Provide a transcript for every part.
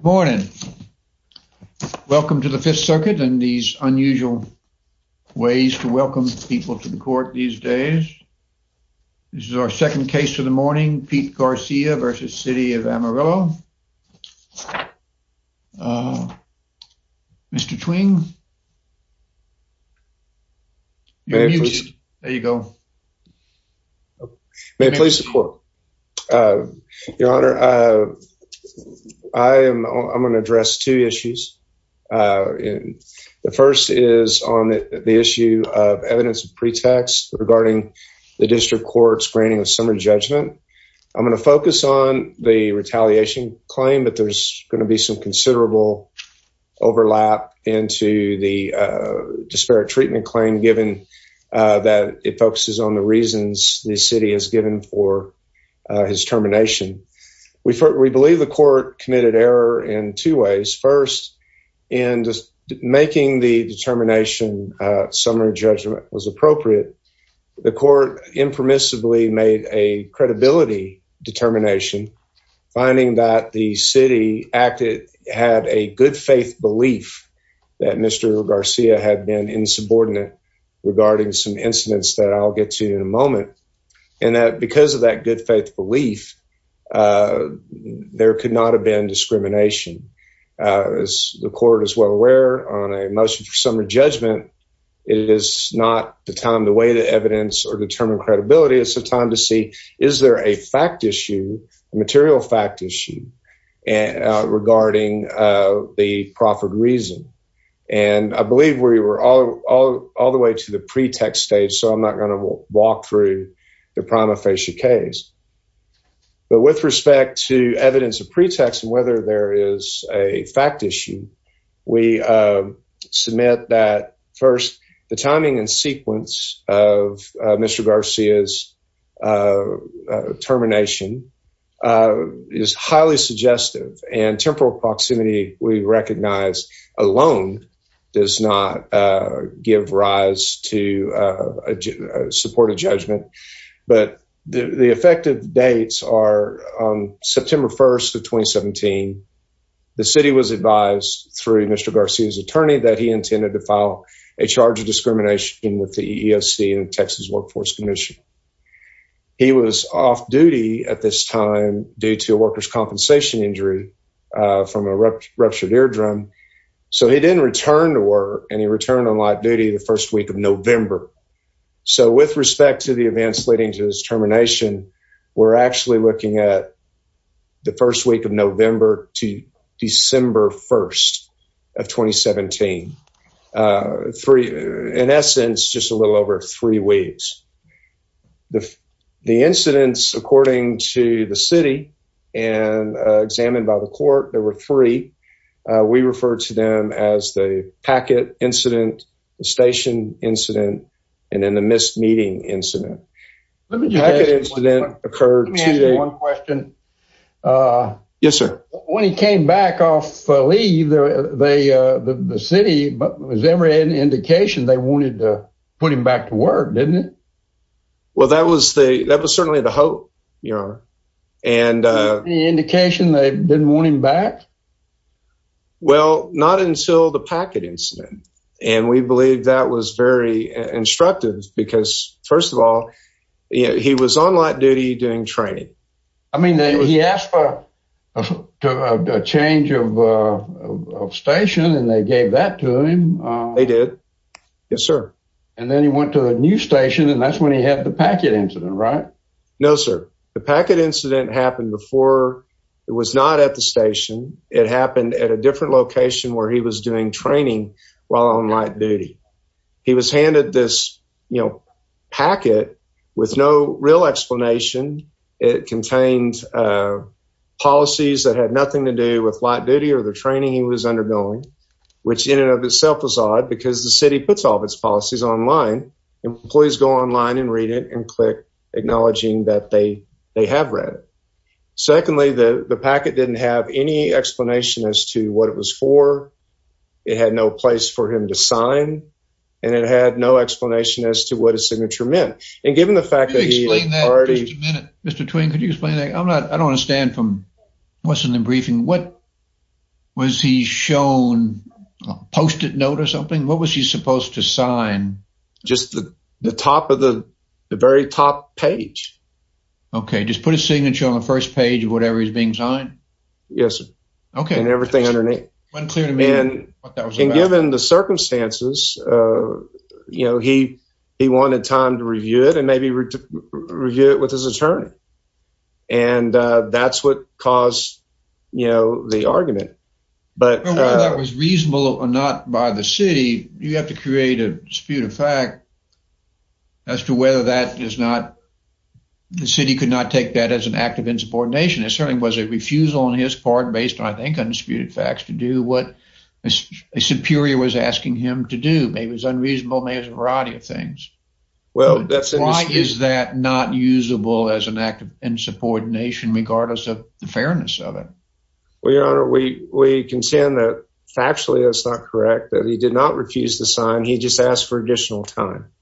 Morning. Welcome to the Fifth Circuit and these unusual ways to welcome people to the court these days. This is our second case of the morning, Pete Garcia versus City of Amarillo. Mr. Twing. There you go. May it please the court. Your Honor, I am going to address two issues. The first is on the issue of evidence of pretext regarding the district court's granting of summary judgment. I'm going to focus on the retaliation claim, but there's going to be some reasons the city has given for his termination. We believe the court committed error in two ways. First, in making the determination summary judgment was appropriate, the court impermissibly made a credibility determination, finding that the city acted had a good faith belief that Mr. Garcia had been insubordinate regarding some incidents that I'll get to in a moment, and that because of that good faith belief, there could not have been discrimination. As the court is well aware on a motion for summary judgment, it is not the time to weigh the evidence or determine credibility. It's a time to see, is there a fact issue, a material fact issue regarding the proffered reason? I believe we were all the way to the pretext stage, so I'm not going to walk through the prima facie case. With respect to evidence of pretext and whether there is a fact issue, we submit that first, the timing and sequence of Mr. Garcia's termination is highly suggestive and temporal proximity we recognize alone does not give rise to support a judgment, but the effective dates are September 1st of 2017. The city was advised through Mr. Garcia's attorney that he intended to file a charge of discrimination with the EEOC Texas Workforce Commission. He was off duty at this time due to a worker's compensation injury from a ruptured eardrum, so he didn't return to work and he returned on live duty the first week of November. So with respect to the events leading to his termination, we're actually looking at the first week of November to December 1st of 2017. In essence, just a little over three weeks. The incidents according to the city and examined by the court, there were three. We referred to them as the Packett incident, the station incident, and then the missed meeting incident. Packett incident occurred. Let me ask you one question. Yes, sir. When he came back off leave, the city, was there any indication they wanted to put him back to work, didn't it? Well, that was certainly the hope, your honor. Any indication they didn't want him back? Well, not until the Packett incident, and we believe that was very instructive because first of all, he was on light duty doing training. I mean, he asked for a change of station and they gave that to him. They did. Yes, sir. And then he went to a new station, and that's when he had the Packett incident, right? No, sir. The Packett incident happened before it was not at the station. It happened at a different location where he was doing training while on light duty. He was handed this packet with no real explanation. It contained policies that had nothing to do with light duty or the training he was undergoing, which in and of itself was odd because the city puts all of its policies online. Employees go online and read it and click acknowledging that they have read it. Secondly, the Packett didn't have any explanation as to what it was for. It had no place for him to sign, and it had no explanation as to what his signature meant. And given the fact that he already... Could you explain that for just a minute, Mr. Twain? Could you explain that? I'm not... I don't understand from what's in the briefing. What was he shown, a post-it note or something? What was he supposed to sign? Just the top of the... the very top page. Okay. Just put a signature on the first page of whatever is being signed? Yes, sir. Okay. And everything underneath. And given the circumstances, you know, he wanted time to review it and maybe review it with his attorney. And that's what caused, you know, the argument. But... Whether that was reasonable or not by the city, you have to create a dispute fact as to whether that is not... The city could not take that as an act of insubordination. It certainly was a refusal on his part based on, I think, undisputed facts to do what a superior was asking him to do. Maybe it was unreasonable. Maybe it was a variety of things. Well, that's... Why is that not usable as an act of insubordination regardless of the fairness of it? Well, your honor, we... We can stand that factually that's not correct, that he did not refuse to sign. He just asked for additional time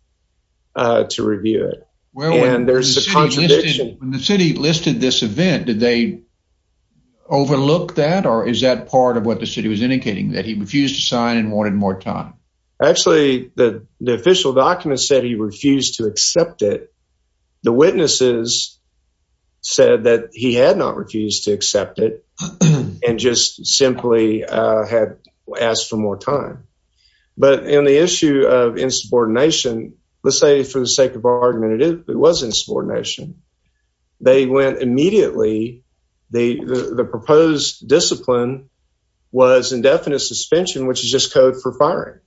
to review it. And there's a contradiction... When the city listed this event, did they overlook that? Or is that part of what the city was indicating, that he refused to sign and wanted more time? Actually, the official document said he refused to accept it. The witnesses said that he had not refused to accept it and just simply had asked for more time. But in the issue of insubordination, let's say for the sake of argument, it was insubordination. They went immediately... The proposed discipline was indefinite suspension, which is just code for firing.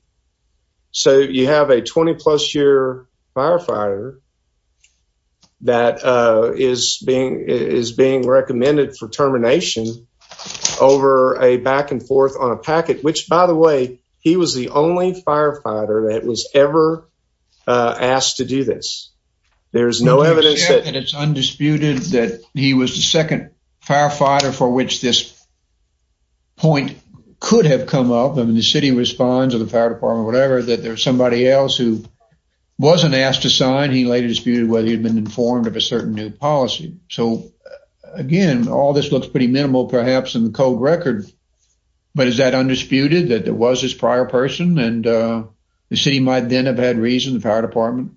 So you have a 20 plus year firefighter that is being recommended for termination over a back and forth on a packet, which by the way, he was the only firefighter that was ever asked to do this. There's no evidence that... Would you accept that it's undisputed that he was the second firefighter for which this point could have come up? I mean, the city responds or the fire department, whatever, that there's somebody else who wasn't asked to sign. He later disputed whether he'd been informed of a certain new policy. So again, all this looks pretty minimal perhaps in the code record, but is that undisputed that there was this prior person and the city might then have had reason, the fire department,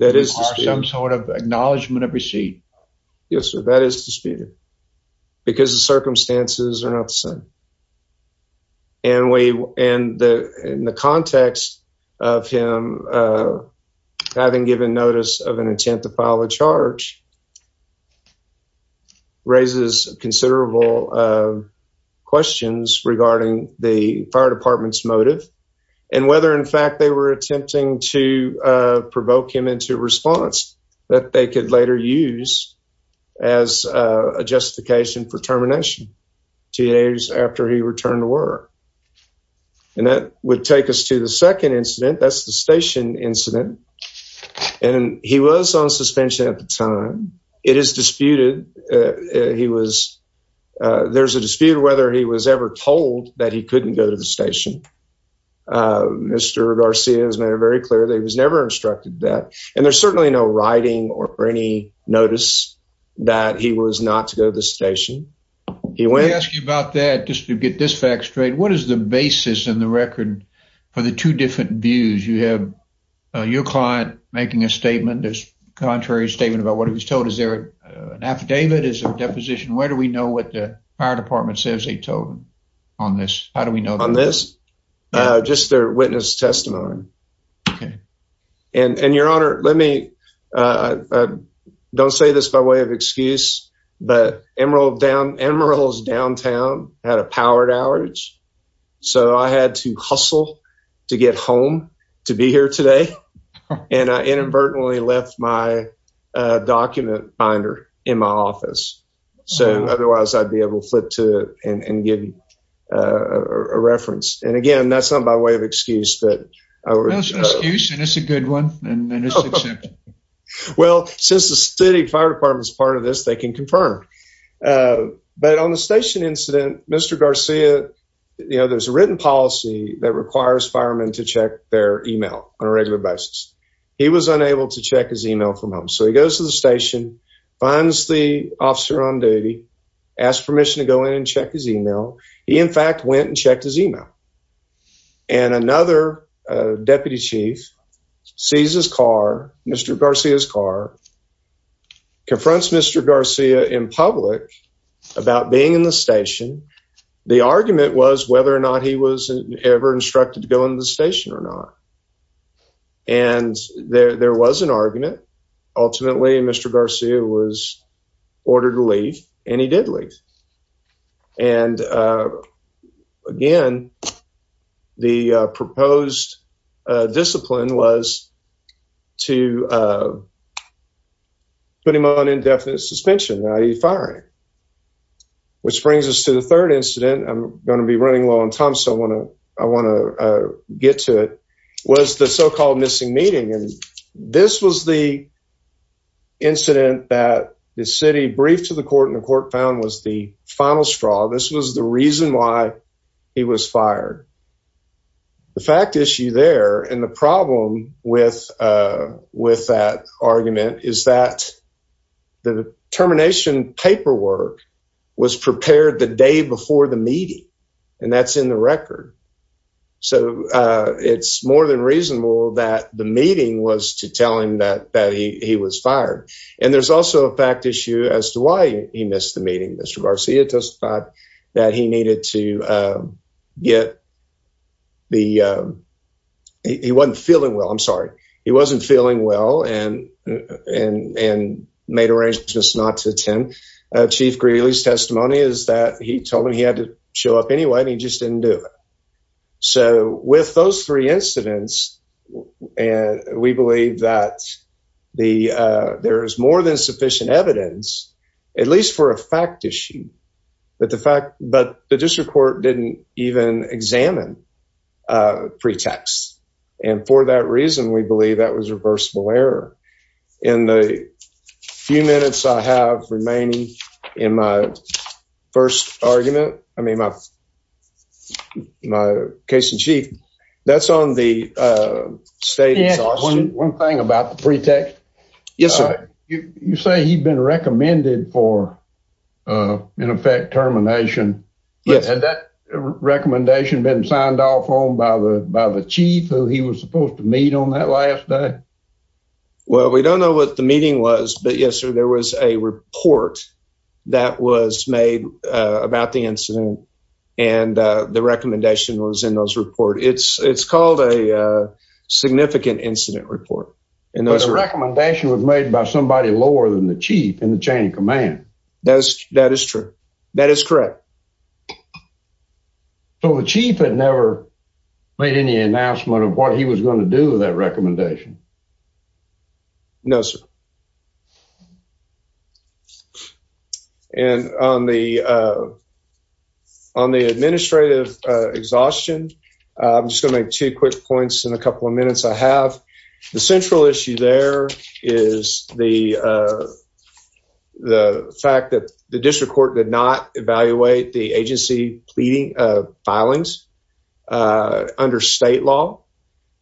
to require some sort of acknowledgement of receipt? Yes, sir. That is disputed because the circumstances are not the same. And in the context of him having given notice of an intent to file a charge, raises considerable questions regarding the fire department's motive and whether, in fact, they were attempting to provoke him into response that they could later use as a justification for he returned to work. And that would take us to the second incident. That's the station incident. And he was on suspension at the time. It is disputed. There's a dispute whether he was ever told that he couldn't go to the station. Mr. Garcia has made it very clear that he was never instructed that. And there's certainly no writing or any notice that he was not to the station. Let me ask you about that just to get this fact straight. What is the basis in the record for the two different views? You have your client making a statement, a contrary statement, about what he was told. Is there an affidavit? Is there a deposition? Where do we know what the fire department says they told him on this? How do we know? On this? Just their witness testimony. Okay. And, Your Honor, let me, don't say this by way of excuse, but Emerald's downtown had a powered outage. So I had to hustle to get home to be here today. And I inadvertently left my document binder in my office. So otherwise, I'd be able to flip to and give you a reference. And again, that's not by way of excuse. That's an excuse and it's a good one. Well, since the city fire department is part of this, they can confirm. But on the station incident, Mr. Garcia, you know, there's a written policy that requires firemen to check their email on a regular basis. He was unable to check his email from home. So he goes to the station, finds the officer on duty, asks permission to go in and check his email. He, in fact, went and checked his email. And another deputy chief sees his car, Mr. Garcia's car, confronts Mr. Garcia in public about being in the station. The argument was whether or not he was ever instructed to go into the station or not. And there was an argument. Ultimately, Mr. Garcia was ordered to leave. And again, the proposed discipline was to put him on indefinite suspension, i.e. firing. Which brings us to the third incident. I'm going to be running low on time, so I want to get to it. Was the so-called missing meeting. And this was the incident that the city briefed to the court and the court found was the final straw. This was the reason why he was fired. The fact issue there and the problem with that argument is that the termination paperwork was prepared the day before the meeting. And that's in the record. So it's more than reasonable that the meeting was to tell him that he was fired. And there's also a fact issue as to why he missed the meeting. Mr. Garcia testified that he needed to get the, he wasn't feeling well, I'm sorry. He wasn't feeling well and made arrangements not to attend. Chief Greeley's testimony is that he told him he had to the there is more than sufficient evidence, at least for a fact issue. But the fact, but the district court didn't even examine pretext. And for that reason, we believe that was reversible error. In the few minutes I have remaining in my first argument, I mean, my case in chief, that's on the state. One thing about the pretext. Yes, sir. You say he'd been recommended for an effect termination. Yes. And that recommendation been signed off on by the by the chief who he was supposed to meet on that last day. Well, we don't know what the meeting was. But yes, sir, there was a report that was made about the incident. And the recommendation was in those report. It's it's called a significant incident report. And the recommendation was made by somebody lower than the chief in the chain of command. That is that is true. That is correct. So the chief had never made any announcement of what he was going to do that recommendation. No, sir. And on the on the administrative exhaustion, I'm just gonna make two quick points in a couple of minutes I have. The central issue there is the the fact that the district court did not evaluate the agency pleading filings under state law.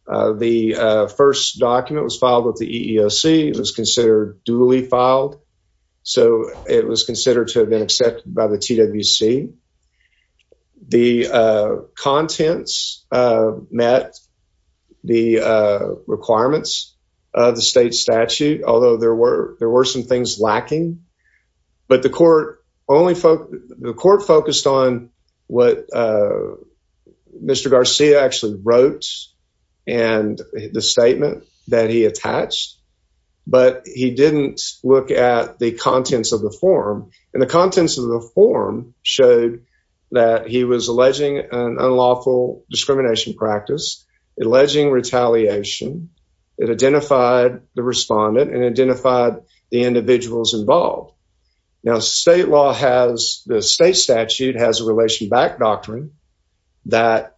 The first document was filed with the EEOC. It was considered duly filed. So it was considered to have been accepted by the TWC. The contents met the requirements of the state statute, although there were there were some things lacking. But the court only the court focused on what Mr. Garcia actually wrote and the statement that he attached. But he didn't look at the contents of the form. And the contents of the form showed that he was alleging an unlawful discrimination practice, alleging retaliation. It identified the respondent and identified the individuals involved. Now, state law has the state statute has a relation back doctrine that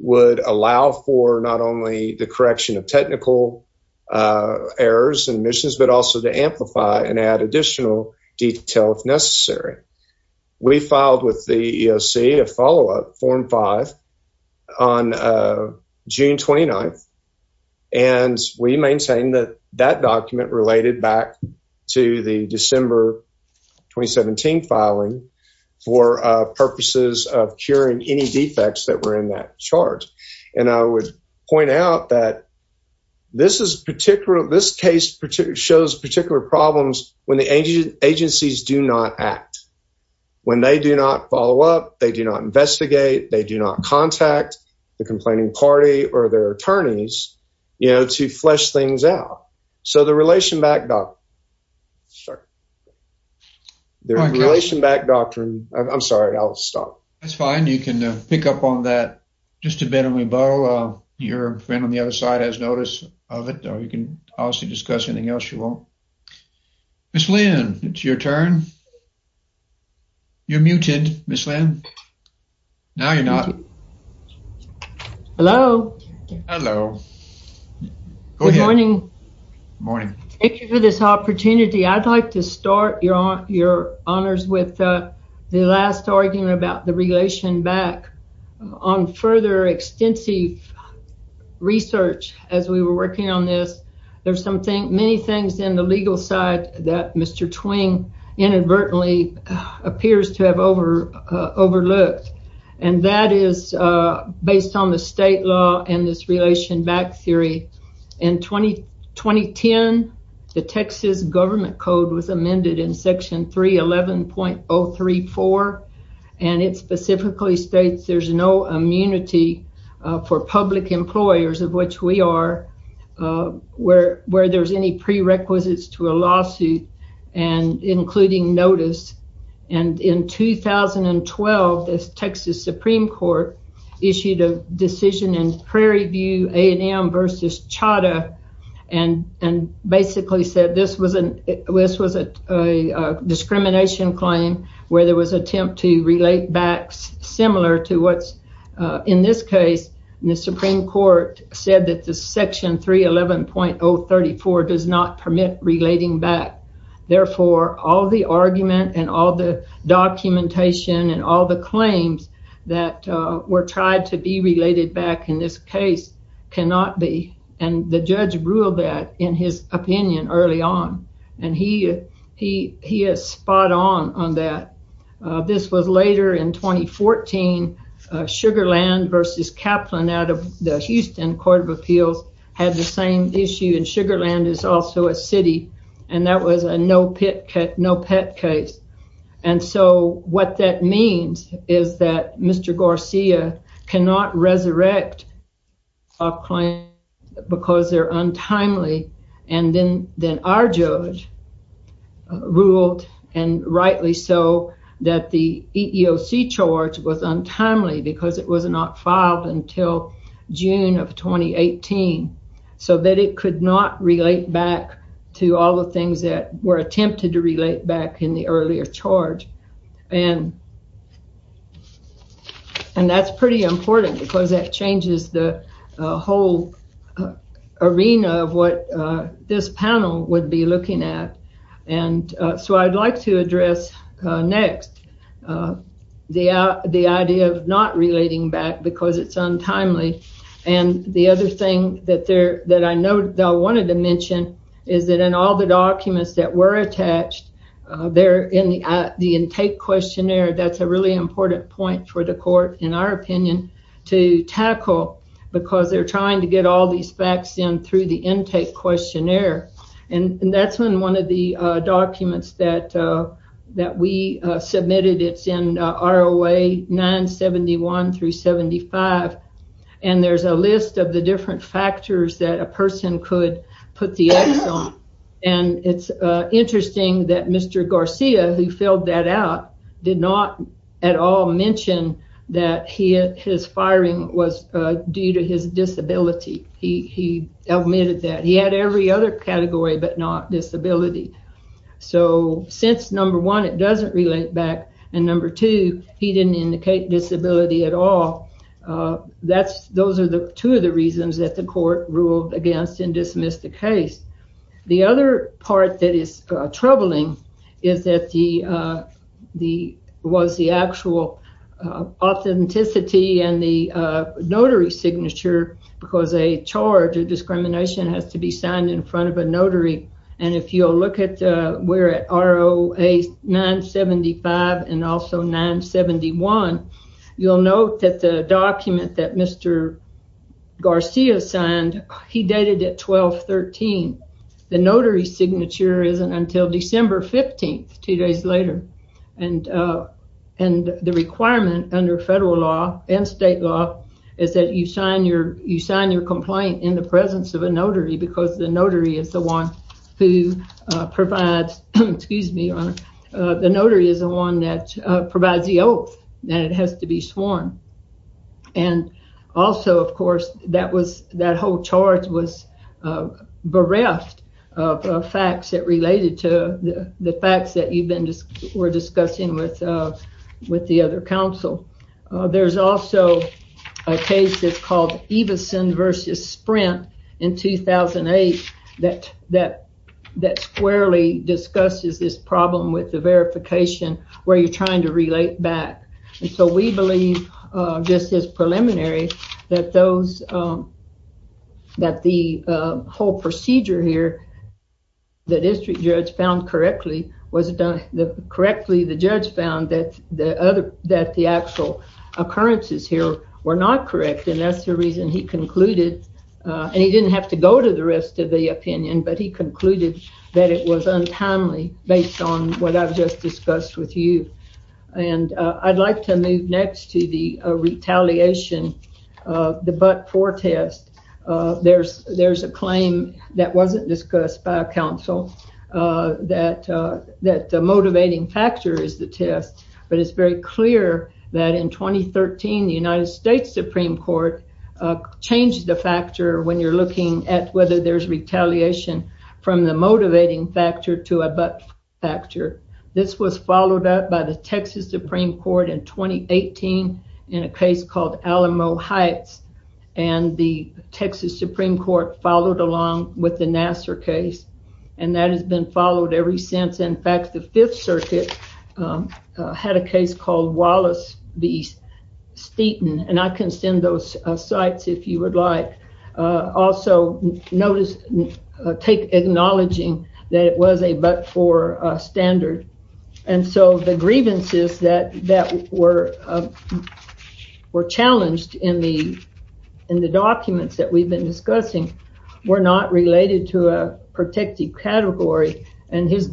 would allow for not only the correction of technical errors and missions, but also to amplify and add additional detail if necessary. We filed with the EEOC a follow-up form five on June 29th. And we maintain that that document related back to the December 2017 filing for purposes of curing any defects that were in that chart. And I would point out that this is particular this case shows particular problems when the agencies do not act. When they do not follow up, they do not investigate, they do not contact the complaining party or their attorneys, you know, to flesh things out. So the relation back doctrine. I'm sorry, I'll stop. That's fine. You can pick up on that just a bit and we borrow your friend on the other side has notice of it or you can also discuss anything else you want. Ms. Lynn, it's your turn. You're muted, Ms. Lynn. Now you're not. Hello. Hello. Good morning. Morning. Thank you for this opportunity. I'd like to start your honors with the last argument about the relation back on further extensive research as we were working on this. There's something many things in the legal side that Mr. Twain inadvertently appears to have overlooked. And that is based on the state law and this relation back theory. In 2010, the Texas government code was amended in section 311.034 and it specifically states there's no immunity for public employers, of which we are, where there's any prerequisites to a lawsuit and including notice. And in 2012, the Texas Supreme Court issued a decision in Prairie View A&M versus Chadha and basically said this was a discrimination claim where there was attempt to relate back similar to what's in this case, the Supreme Court said that the section 311.034 does not permit relating back. Therefore, all the argument and all the documentation and all the cannot be. And the judge ruled that in his opinion early on. And he is spot on on that. This was later in 2014, Sugar Land versus Kaplan out of the Houston Court of Appeals had the same issue and Sugar Land is also a city and that was a no pet case. And so, what that means is that Mr. Garcia cannot resurrect a claim because they're untimely. And then our judge ruled and rightly so that the EEOC charge was untimely because it was not filed until June of 2018 so that it could not relate back to all the things that were attempted to and that's pretty important because that changes the whole arena of what this panel would be looking at. And so, I'd like to address next the idea of not relating back because it's untimely. And the other thing that I wanted to mention is that in all the documents that were attached there in the intake questionnaire, that's a really important point for the court in our opinion to tackle because they're trying to get all these facts in through the intake questionnaire. And that's when one of the documents that we submitted, it's in ROA 971 through 75, and there's a list of the different factors that a person could put the X on. And it's interesting that Mr. Garcia, who filled that out, did not at all mention that his firing was due to his disability. He admitted that. He had every other category but not disability. So, since number one, it doesn't relate back and number two, he didn't indicate disability at all, those are the two of the reasons that the court ruled against and dismissed the case. The other part that is troubling is that the, was the actual authenticity and the notary signature because a charge or discrimination has to be signed in front of a notary. And if you'll look at, we're at ROA 975 and also 971, you'll note that the document that Mr. Garcia signed, he dated it 12-13. The notary signature isn't until December 15th, two days later. And the requirement under federal law and state law is that you sign your complaint in the who provides, excuse me, the notary is the one that provides the oath that it has to be sworn. And also, of course, that was, that whole charge was bereft of facts that related to the facts that you've been discussing with the other counsel. There's also a case that's called Stevenson versus Sprint in 2008 that squarely discusses this problem with the verification where you're trying to relate back. And so, we believe just as preliminary that those, that the whole procedure here, the district judge found correctly, was it done correctly, the judge found that the other, that the actual occurrences here were not correct. And that's the reason he concluded, and he didn't have to go to the rest of the opinion, but he concluded that it was untimely based on what I've just discussed with you. And I'd like to move next to the retaliation, the but-for test. There's a claim that wasn't is the test, but it's very clear that in 2013, the United States Supreme Court changed the factor when you're looking at whether there's retaliation from the motivating factor to a but factor. This was followed up by the Texas Supreme Court in 2018 in a case called Alamo Heights, and the Texas Supreme Court followed along with the Nassar case. And that has been um, had a case called Wallace v. Steeton, and I can send those sites if you would like. Also, notice, take acknowledging that it was a but-for standard. And so, the grievances that were challenged in the documents that we've been discussing were not related to a protective category, and his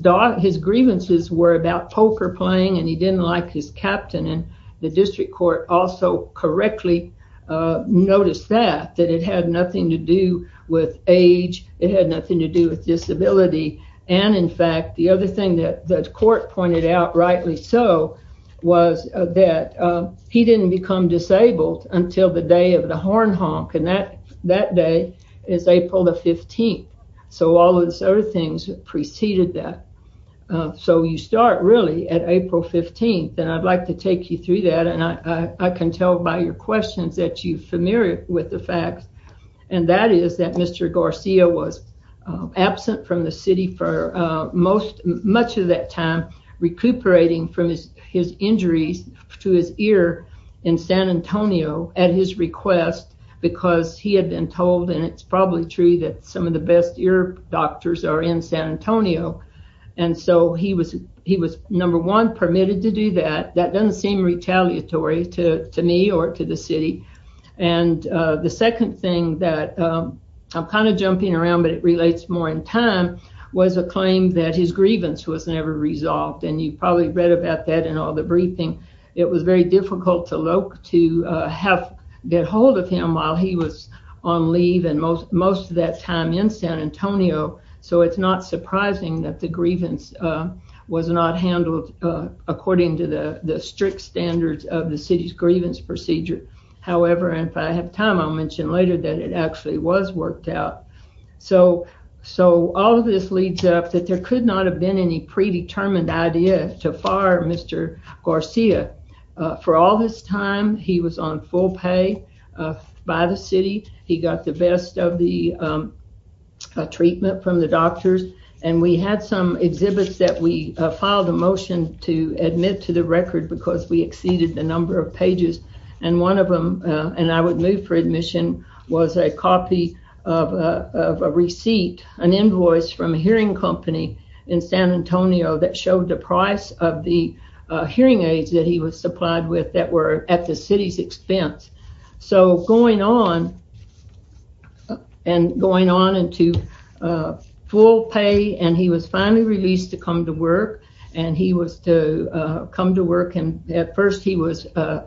grievances were about poker playing, and he didn't like his captain. And the district court also correctly noticed that, that it had nothing to do with age, it had nothing to do with disability. And in fact, the other thing that the court pointed out, rightly so, was that he didn't become disabled until the day of the horn honk, and that day is April the 15th. So, all those other things preceded that. So, you start really at April 15th, and I'd like to take you through that, and I can tell by your questions that you're familiar with the facts, and that is that Mr. Garcia was absent from the city for most, much of that time, recuperating from his injuries to his ear in San Antonio at his request, because he had been told and it's probably true that some of the best ear doctors are in San Antonio. And so, he was number one permitted to do that. That doesn't seem retaliatory to me or to the city. And the second thing that, I'm kind of jumping around, but it relates more in time, was a claim that his grievance was never resolved, and you probably read about that in all the briefing. It was very most of that time in San Antonio, so it's not surprising that the grievance was not handled according to the strict standards of the city's grievance procedure. However, and if I have time, I'll mention later that it actually was worked out. So, all of this leads up that there could not have been any predetermined idea to fire Mr. Garcia. For all his time, he was on full pay by the city. He got the best of the treatment from the doctors, and we had some exhibits that we filed a motion to admit to the record because we exceeded the number of pages. And one of them, and I would move for admission, was a copy of a receipt, an invoice from a hearing company in San Antonio that showed the price of the hearing aids that he was supplied with that were at the city's expense. So, going on and to full pay, and he was finally released to come to work, and he was to come to work, and at first he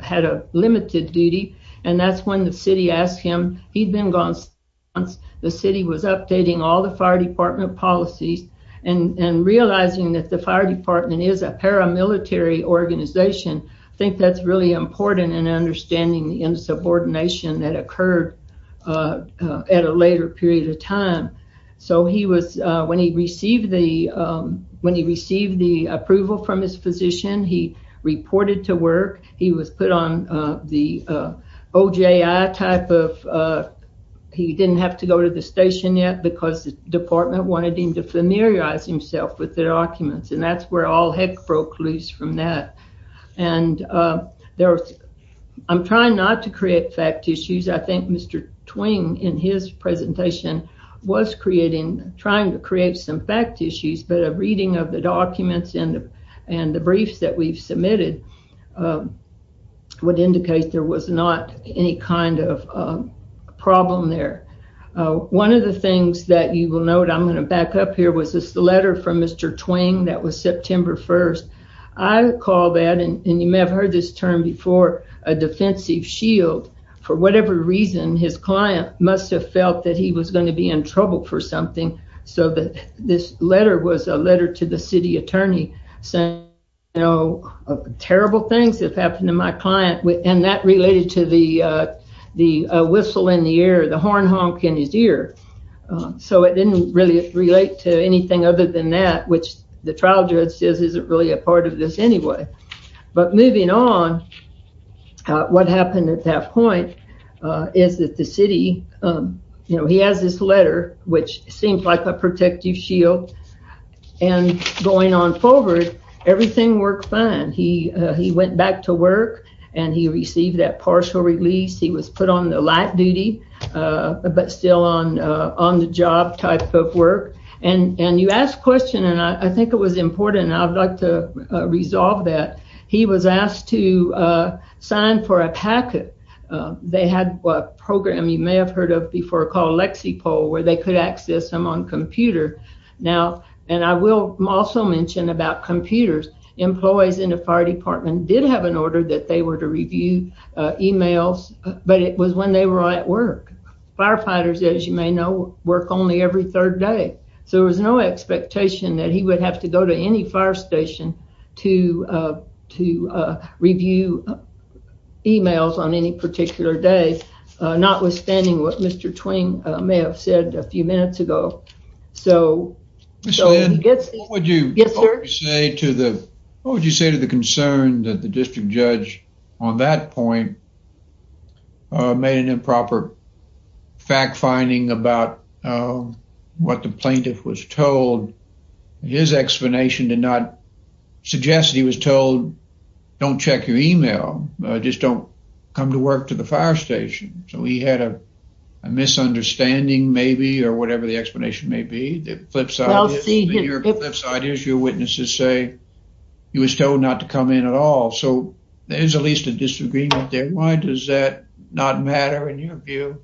had a limited duty, and that's when the city asked him. He'd been gone six months. The city was updating all the fire department policies, and realizing that the fire department is a paramilitary organization, I think that's really important in understanding the insubordination that occurred at a later period of time. So, when he received the approval from his physician, he reported to work. He was put on the OJI type of, he didn't have to go to the station yet because the department wanted him to familiarize himself with their documents, and that's where all heck broke loose from that. I'm trying not to create fact issues. I think Mr. Twing, in his presentation, was creating, trying to create some fact issues, but a reading of the documents and the briefs that we've submitted would indicate there was not any kind of problem there. One of the things that you will note, I'm going to back up here, was this letter from Mr. Twing that was September 1st. I recall that, and you may have heard this term before, a defensive shield. For whatever reason, his client must have felt that he was going to be in trouble for something. So, this letter was a letter to the city attorney saying, you know, terrible things have happened to my client, and that related to the whistle in the air, the horn honk in his ear. So, it didn't really relate to anything other than that, which the trial judge says isn't really a part of this anyway. But moving on, what happened at that point is that the city, you know, he has this letter, which seems like a protective shield, and going on forward, everything worked fine. He went back to work, and he received that partial release. He was put on the light duty, but still on the job type of work, and you asked a question, and I think it was important, and I'd like to resolve that. He was asked to sign for a packet. They had a program you may have heard of before called Lexipol, where they could access him on computer. Now, and I will also mention about computers. Employees in the fire department did have an order that they were to review emails, but it was when they were at work. Firefighters, as you may know, work only every third day. So, there was no expectation that he would have to go to any fire station to review emails on any particular day, notwithstanding what Mr. Twain may have said a few minutes ago. So, what would you say to the concern that the district judge on that point made an improper fact-finding about what the plaintiff was told? His explanation did not suggest he was told, don't check your email. Just don't come to work to the fire station. So, a misunderstanding, maybe, or whatever the explanation may be. Your witnesses say he was told not to come in at all. So, there's at least a disagreement there. Why does that not matter in your view?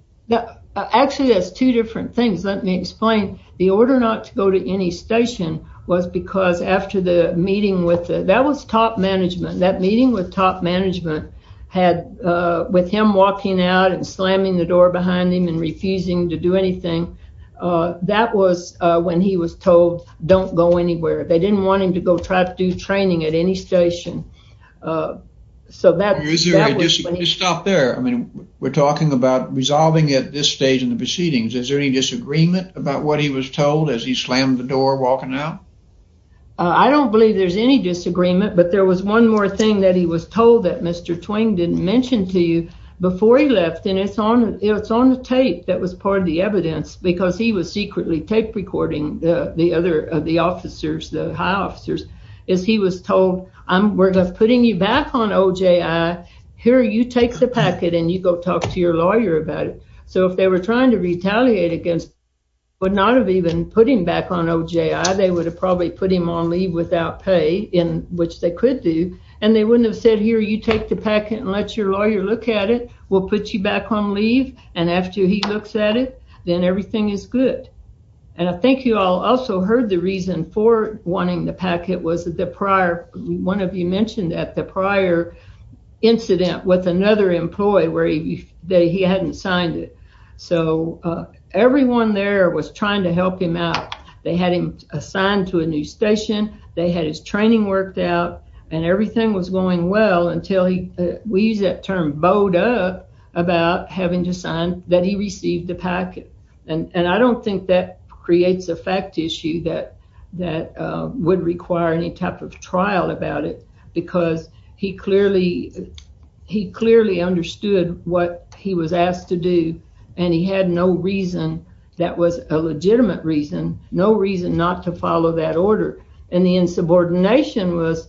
Actually, it's two different things. Let me explain. The order not to go to any station was because after the meeting with, that was top management, that meeting with top management had, with him walking out and slamming the door behind him and refusing to do anything, that was when he was told don't go anywhere. They didn't want him to go try to do training at any station. So, that was when he... Just stop there. I mean, we're talking about resolving at this stage in the proceedings. Is there any disagreement about what he was told as he slammed the door walking out? I don't believe there's any disagreement, but there was one more thing that he was told that Mr. Twain didn't mention to you before he left, and it's on, it's on the tape that was part of the evidence, because he was secretly tape recording the other, the officers, the high officers, is he was told, I'm putting you back on OJI. Here, you take the packet and you go talk to your lawyer about it. So, if they were trying to retaliate against him, but not of even putting back on OJI, they would have probably put him on leave without pay, which they could do, and they wouldn't have said, here, you take the packet and let your lawyer look at it. We'll put you back on leave, and after he looks at it, then everything is good. And I think you all also heard the reason for wanting the packet was that the prior, one of you mentioned that the prior incident with another employee where he hadn't signed it. So, everyone there was trying to help him out. They had him assigned to a new station, they had his training worked out, and everything was going well until he, we use that term, bowed up about having to sign that he received the packet. And I don't think that creates a fact issue that that would require any type of trial about it, because he clearly, he clearly understood what he was asked to do, and he had no reason, that was a legitimate reason, no reason not to follow that order. And the insubordination was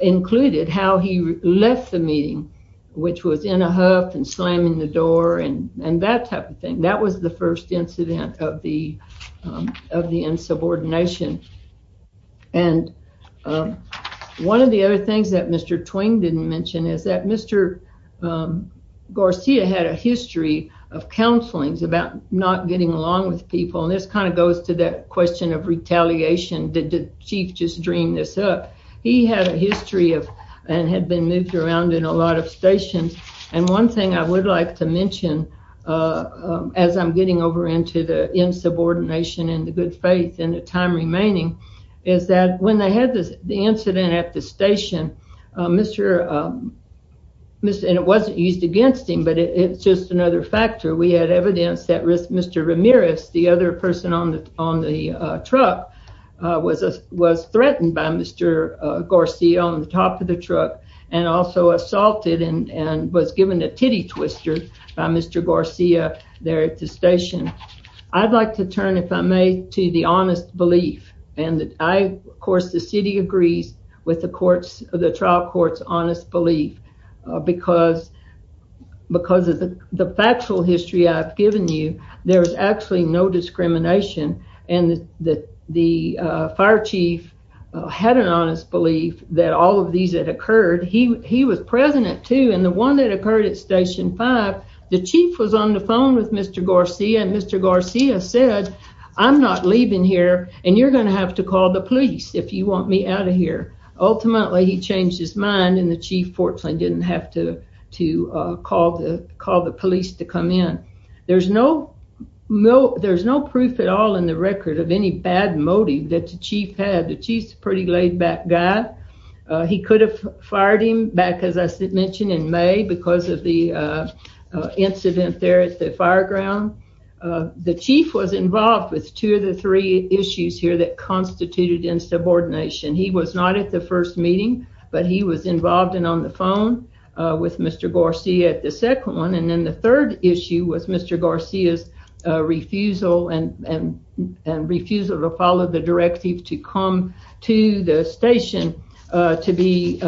included, how he left the meeting, which was in a huff and slamming the door and that type of thing. That was the first incident of the insubordination. And one of the other things that Mr. Twain didn't mention is that Mr. Garcia had a history of counselings about not getting along with people, and this kind of goes to that question of retaliation. Did the chief just dream this up? He had a history of, and had been moved around in a lot of stations, and one thing I would like to mention as I'm getting over into the insubordination and the good faith and the time remaining, is that when they had the incident at the station, Mr., and it wasn't used against him, but it's just another factor, we had evidence that Mr. Ramirez, the other person on the truck, was threatened by Mr. Garcia on the top of the truck and also assaulted and was given a titty twister by Mr. Garcia there at the station. I'd like to turn, if I may, to the honest belief, and I, of course, the city agrees with the trial court's honest belief because of the factual history I've given you, there was actually no discrimination, and the fire chief had an honest belief that all of these had occurred. He was present too, and the one that occurred at station five, the chief was on the phone with Mr. Garcia, and Mr. Garcia said, I'm not leaving here, and you're going to have to call the police if you want me out of here. Ultimately, he changed his mind, and the chief fortunately didn't have to call the police to come in. There's no proof at all in the record of any bad motive that the chief had. The chief's a pretty laid-back guy. He could have fired him back, as I mentioned, in May because of the incident there at the fire ground. The chief was involved with two of the three issues here that constituted insubordination. He was not at the first meeting, but he was involved and on the phone with Mr. Garcia at the second one, and then the third issue was Mr. Garcia's refusal to follow the directive to come to the station to have the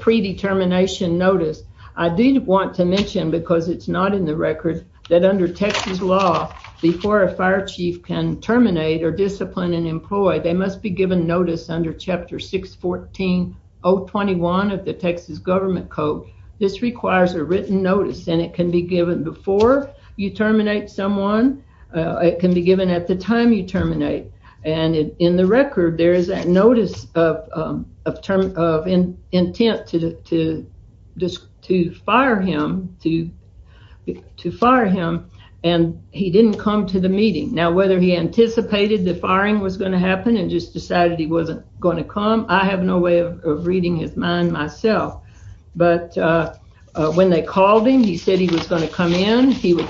predetermination noticed. I did want to mention, because it's not in the record, that under Texas law, before a fire chief can terminate or discipline an employee, they must be given notice under chapter 614.021 of the Texas government code. This requires a written notice, and it can be given before you terminate someone. It can be given at the time you terminate, and in the record, there is that notice of intent to fire him, and he didn't come to the meeting. Whether he anticipated the firing was going to happen and just decided he wasn't going to come, I have no way of reading his mind myself. When they called him, he said he was going to come in. He would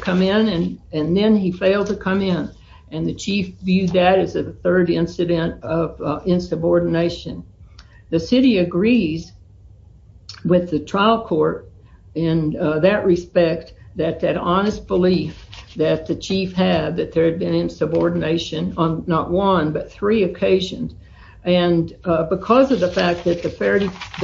insubordination. The city agrees with the trial court in that respect that that honest belief that the chief had that there had been insubordination on not one, but three occasions, and because of the fact that the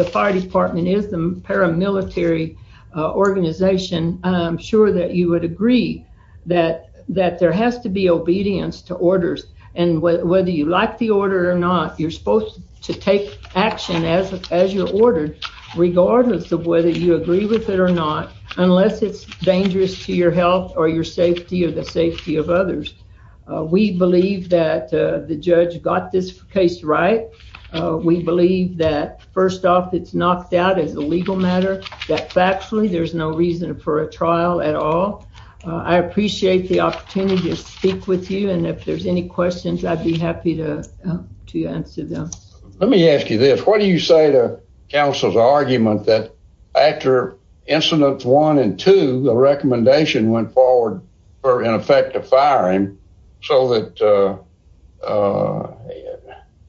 fire department is the paramilitary organization, I'm sure that would agree that there has to be obedience to orders, and whether you like the order or not, you're supposed to take action as you're ordered, regardless of whether you agree with it or not, unless it's dangerous to your health or your safety or the safety of others. We believe that the judge got this case right. We believe that, first off, it's knocked out as a legal matter, that factually there's no reason for a trial at all. I appreciate the opportunity to speak with you, and if there's any questions, I'd be happy to answer them. Let me ask you this. What do you say to counsel's argument that after incidents one and two, the recommendation went forward for, in effect, a firing, so that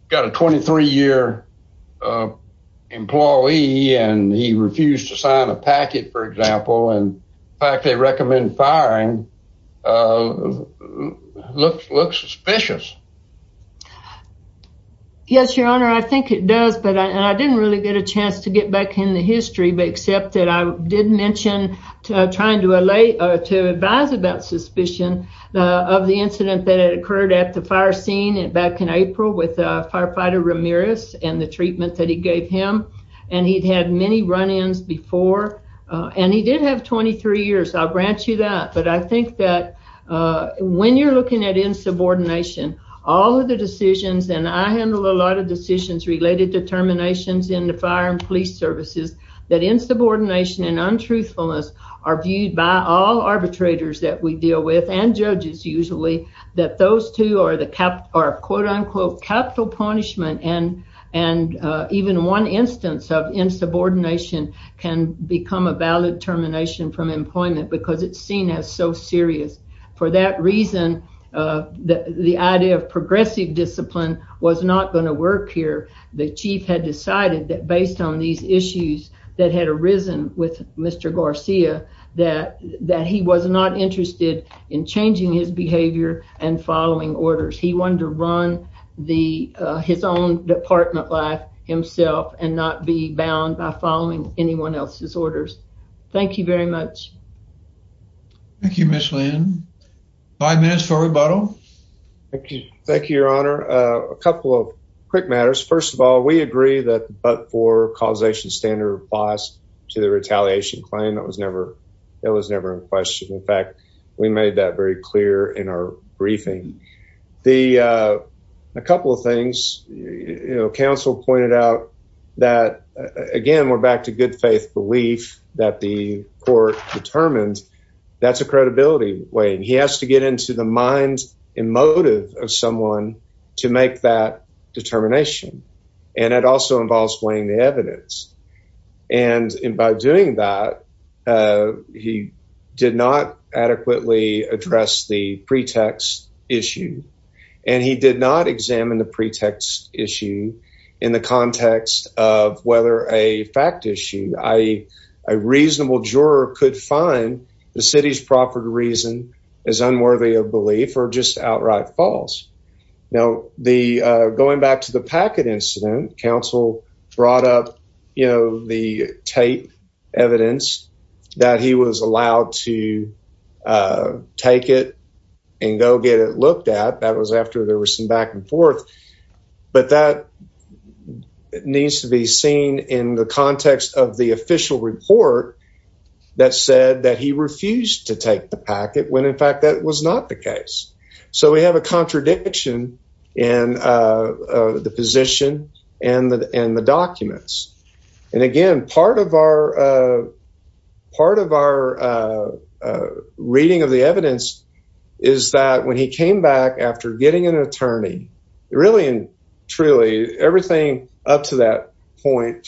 got a 23-year employee, and he refused to sign a packet, for example, and the fact they recommend firing looks suspicious. Yes, your honor, I think it does, but I didn't really get a chance to get back in the history, except that I did mention trying to advise about suspicion of the incident that had occurred at the fire scene back in April with firefighter Ramirez and the treatment that he gave him, and he'd had many run-ins before, and he did have 23 years. I'll grant you that, but I think that when you're looking at insubordination, all of the decisions, and I handle a lot of decisions related to terminations in the fire and police services that insubordination and untruthfulness are viewed by all arbitrators that we deal with, and judges usually, that those two are the capital punishment, and even one instance of insubordination can become a valid termination from employment because it's seen as so serious. For that reason, the idea of progressive discipline was not going to work here. The chief had decided that based on these issues that had arisen with Mr. Garcia that he was not interested in changing his behavior and following orders. He wanted to run his own department life himself and not be bound by following anyone else's orders. Thank you very much. Thank you, Ms. Lynn. Five minutes for rebuttal. Thank you. Thank you, Your Honor. A couple of quick matters. First of all, we agree that but-for causation standard applies to the retaliation claim. That was never in question. In fact, we made that very clear in our briefing. A couple of things. Council pointed out that, again, we're back to good faith belief that the court determined that's a credibility weighing. He has to get into the mind and motive of someone to make that determination. It also involves weighing the evidence. By doing that, he did not adequately address the pretext issue, and he did not examine the pretext issue in the context of whether a fact issue, i.e., a reasonable juror could find the city's proffered reason is unworthy of belief or just outright false. Now, going back to the packet incident, council brought up the tape evidence that he was allowed to take it and go get it looked at. That was after there was some back and official report that said that he refused to take the packet when, in fact, that was not the case. We have a contradiction in the position and the documents. Again, part of our reading of the evidence is that when he came back after getting an attorney, really and truly, everything up to that point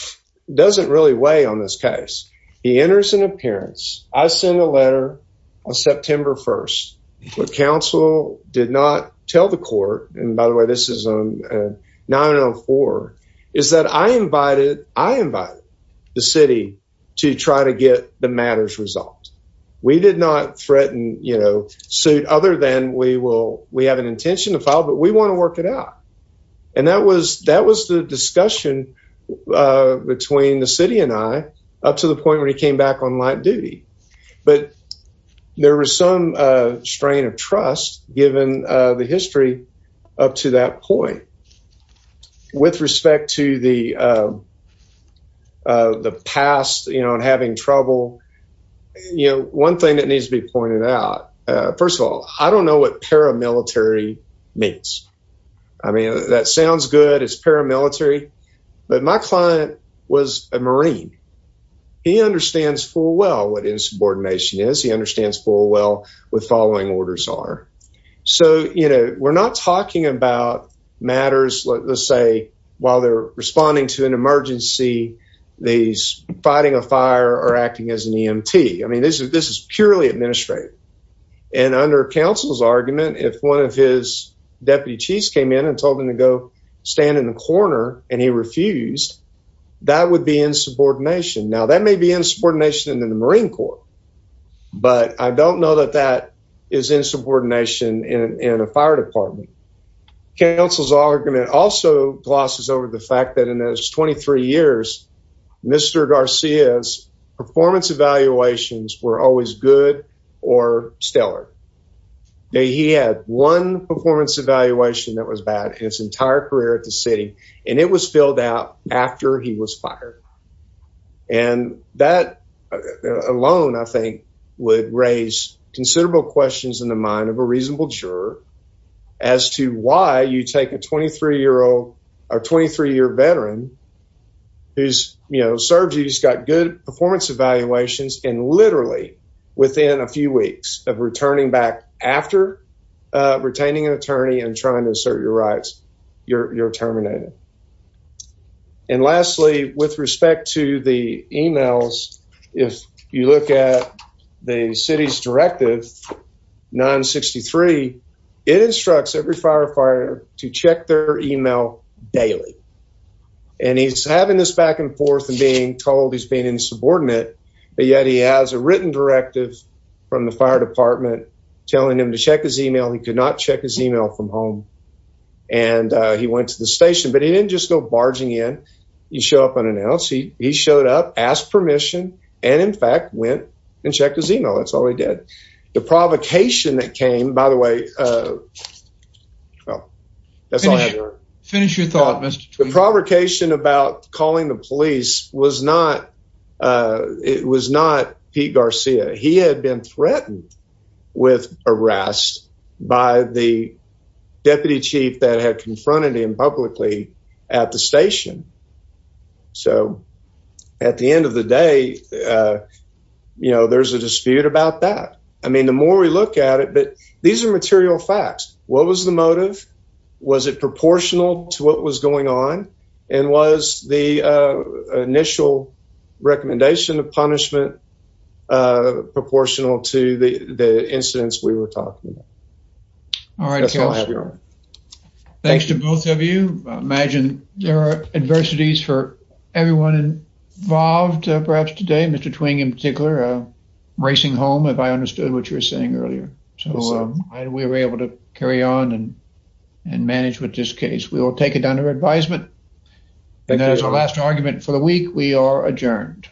doesn't really weigh on this case. He enters an appearance. I sent a letter on September 1st. What council did not tell the court, and by the way, this is on 904, is that I invited the city to try to get the matters resolved. We did not threaten suit other than we have an intention to file, but we want to work it out, and that was the discussion between the city and I up to the point where he came back on light duty, but there was some strain of trust given the history up to that point. With respect to the past and having trouble, one thing that needs to be pointed out, first of all, I don't know what paramilitary means. I mean, that sounds good. It's paramilitary, but my client was a Marine. He understands full well what insubordination is. He understands full well what following orders are. We're not talking about matters, let's say, while they're responding to an emergency, they're fighting a fire or acting as an EMT. I mean, this is purely administrative, and under council's argument, if one of his deputies came in and told him to go stand in the corner and he refused, that would be insubordination. Now, that may be insubordination in the Marine Corps, but I don't know that that is insubordination in a fire department. Council's argument also glosses over the fact that in those 23 years, Mr. Garcia's performance evaluations were always good or stellar. He had one performance evaluation that was bad in his entire career at the city, and it was filled out after he was fired. And that alone, I think, would raise considerable questions in the mind of a reasonable juror as to why you take a 23-year-old or 23-year-old veteran who's, you know, served, he's got good performance evaluations, and literally within a few weeks of returning back after retaining an attorney and trying to assert your rights, you're terminated. And lastly, with respect to the emails, if you look at the city's directive 963, it instructs every firefighter to check their email daily. And he's having this back and forth and being told he's being insubordinate, but yet he has a written directive from the fire department telling him to check his email. He could not check his email from home, and he went to the station. But he didn't just go barging in. He showed up unannounced. He showed up, asked permission, and in fact went and checked his email. That's all he did. The provocation that came, by the way, well, that's all I have here. Finish your thought, Mr. Tweed. The provocation about calling the police was not Pete Garcia. He had been threatened with arrest by the deputy chief that had confronted him publicly at the station. So at the end of the day, you know, there's a dispute about that. I mean, the more we look at it, but these are material facts. What was the motive? Was it proportional to what was going on? And was the initial recommendation of punishment proportional to the incidents we were talking about? All right. Thanks to both of you. I imagine there are adversities for everyone involved, perhaps today. Mr. Twing, in particular, racing home, if I understood what you were saying earlier. So we were able to carry on and manage with this case. We will take it under advisement. That is our last argument for the week. We are adjourned.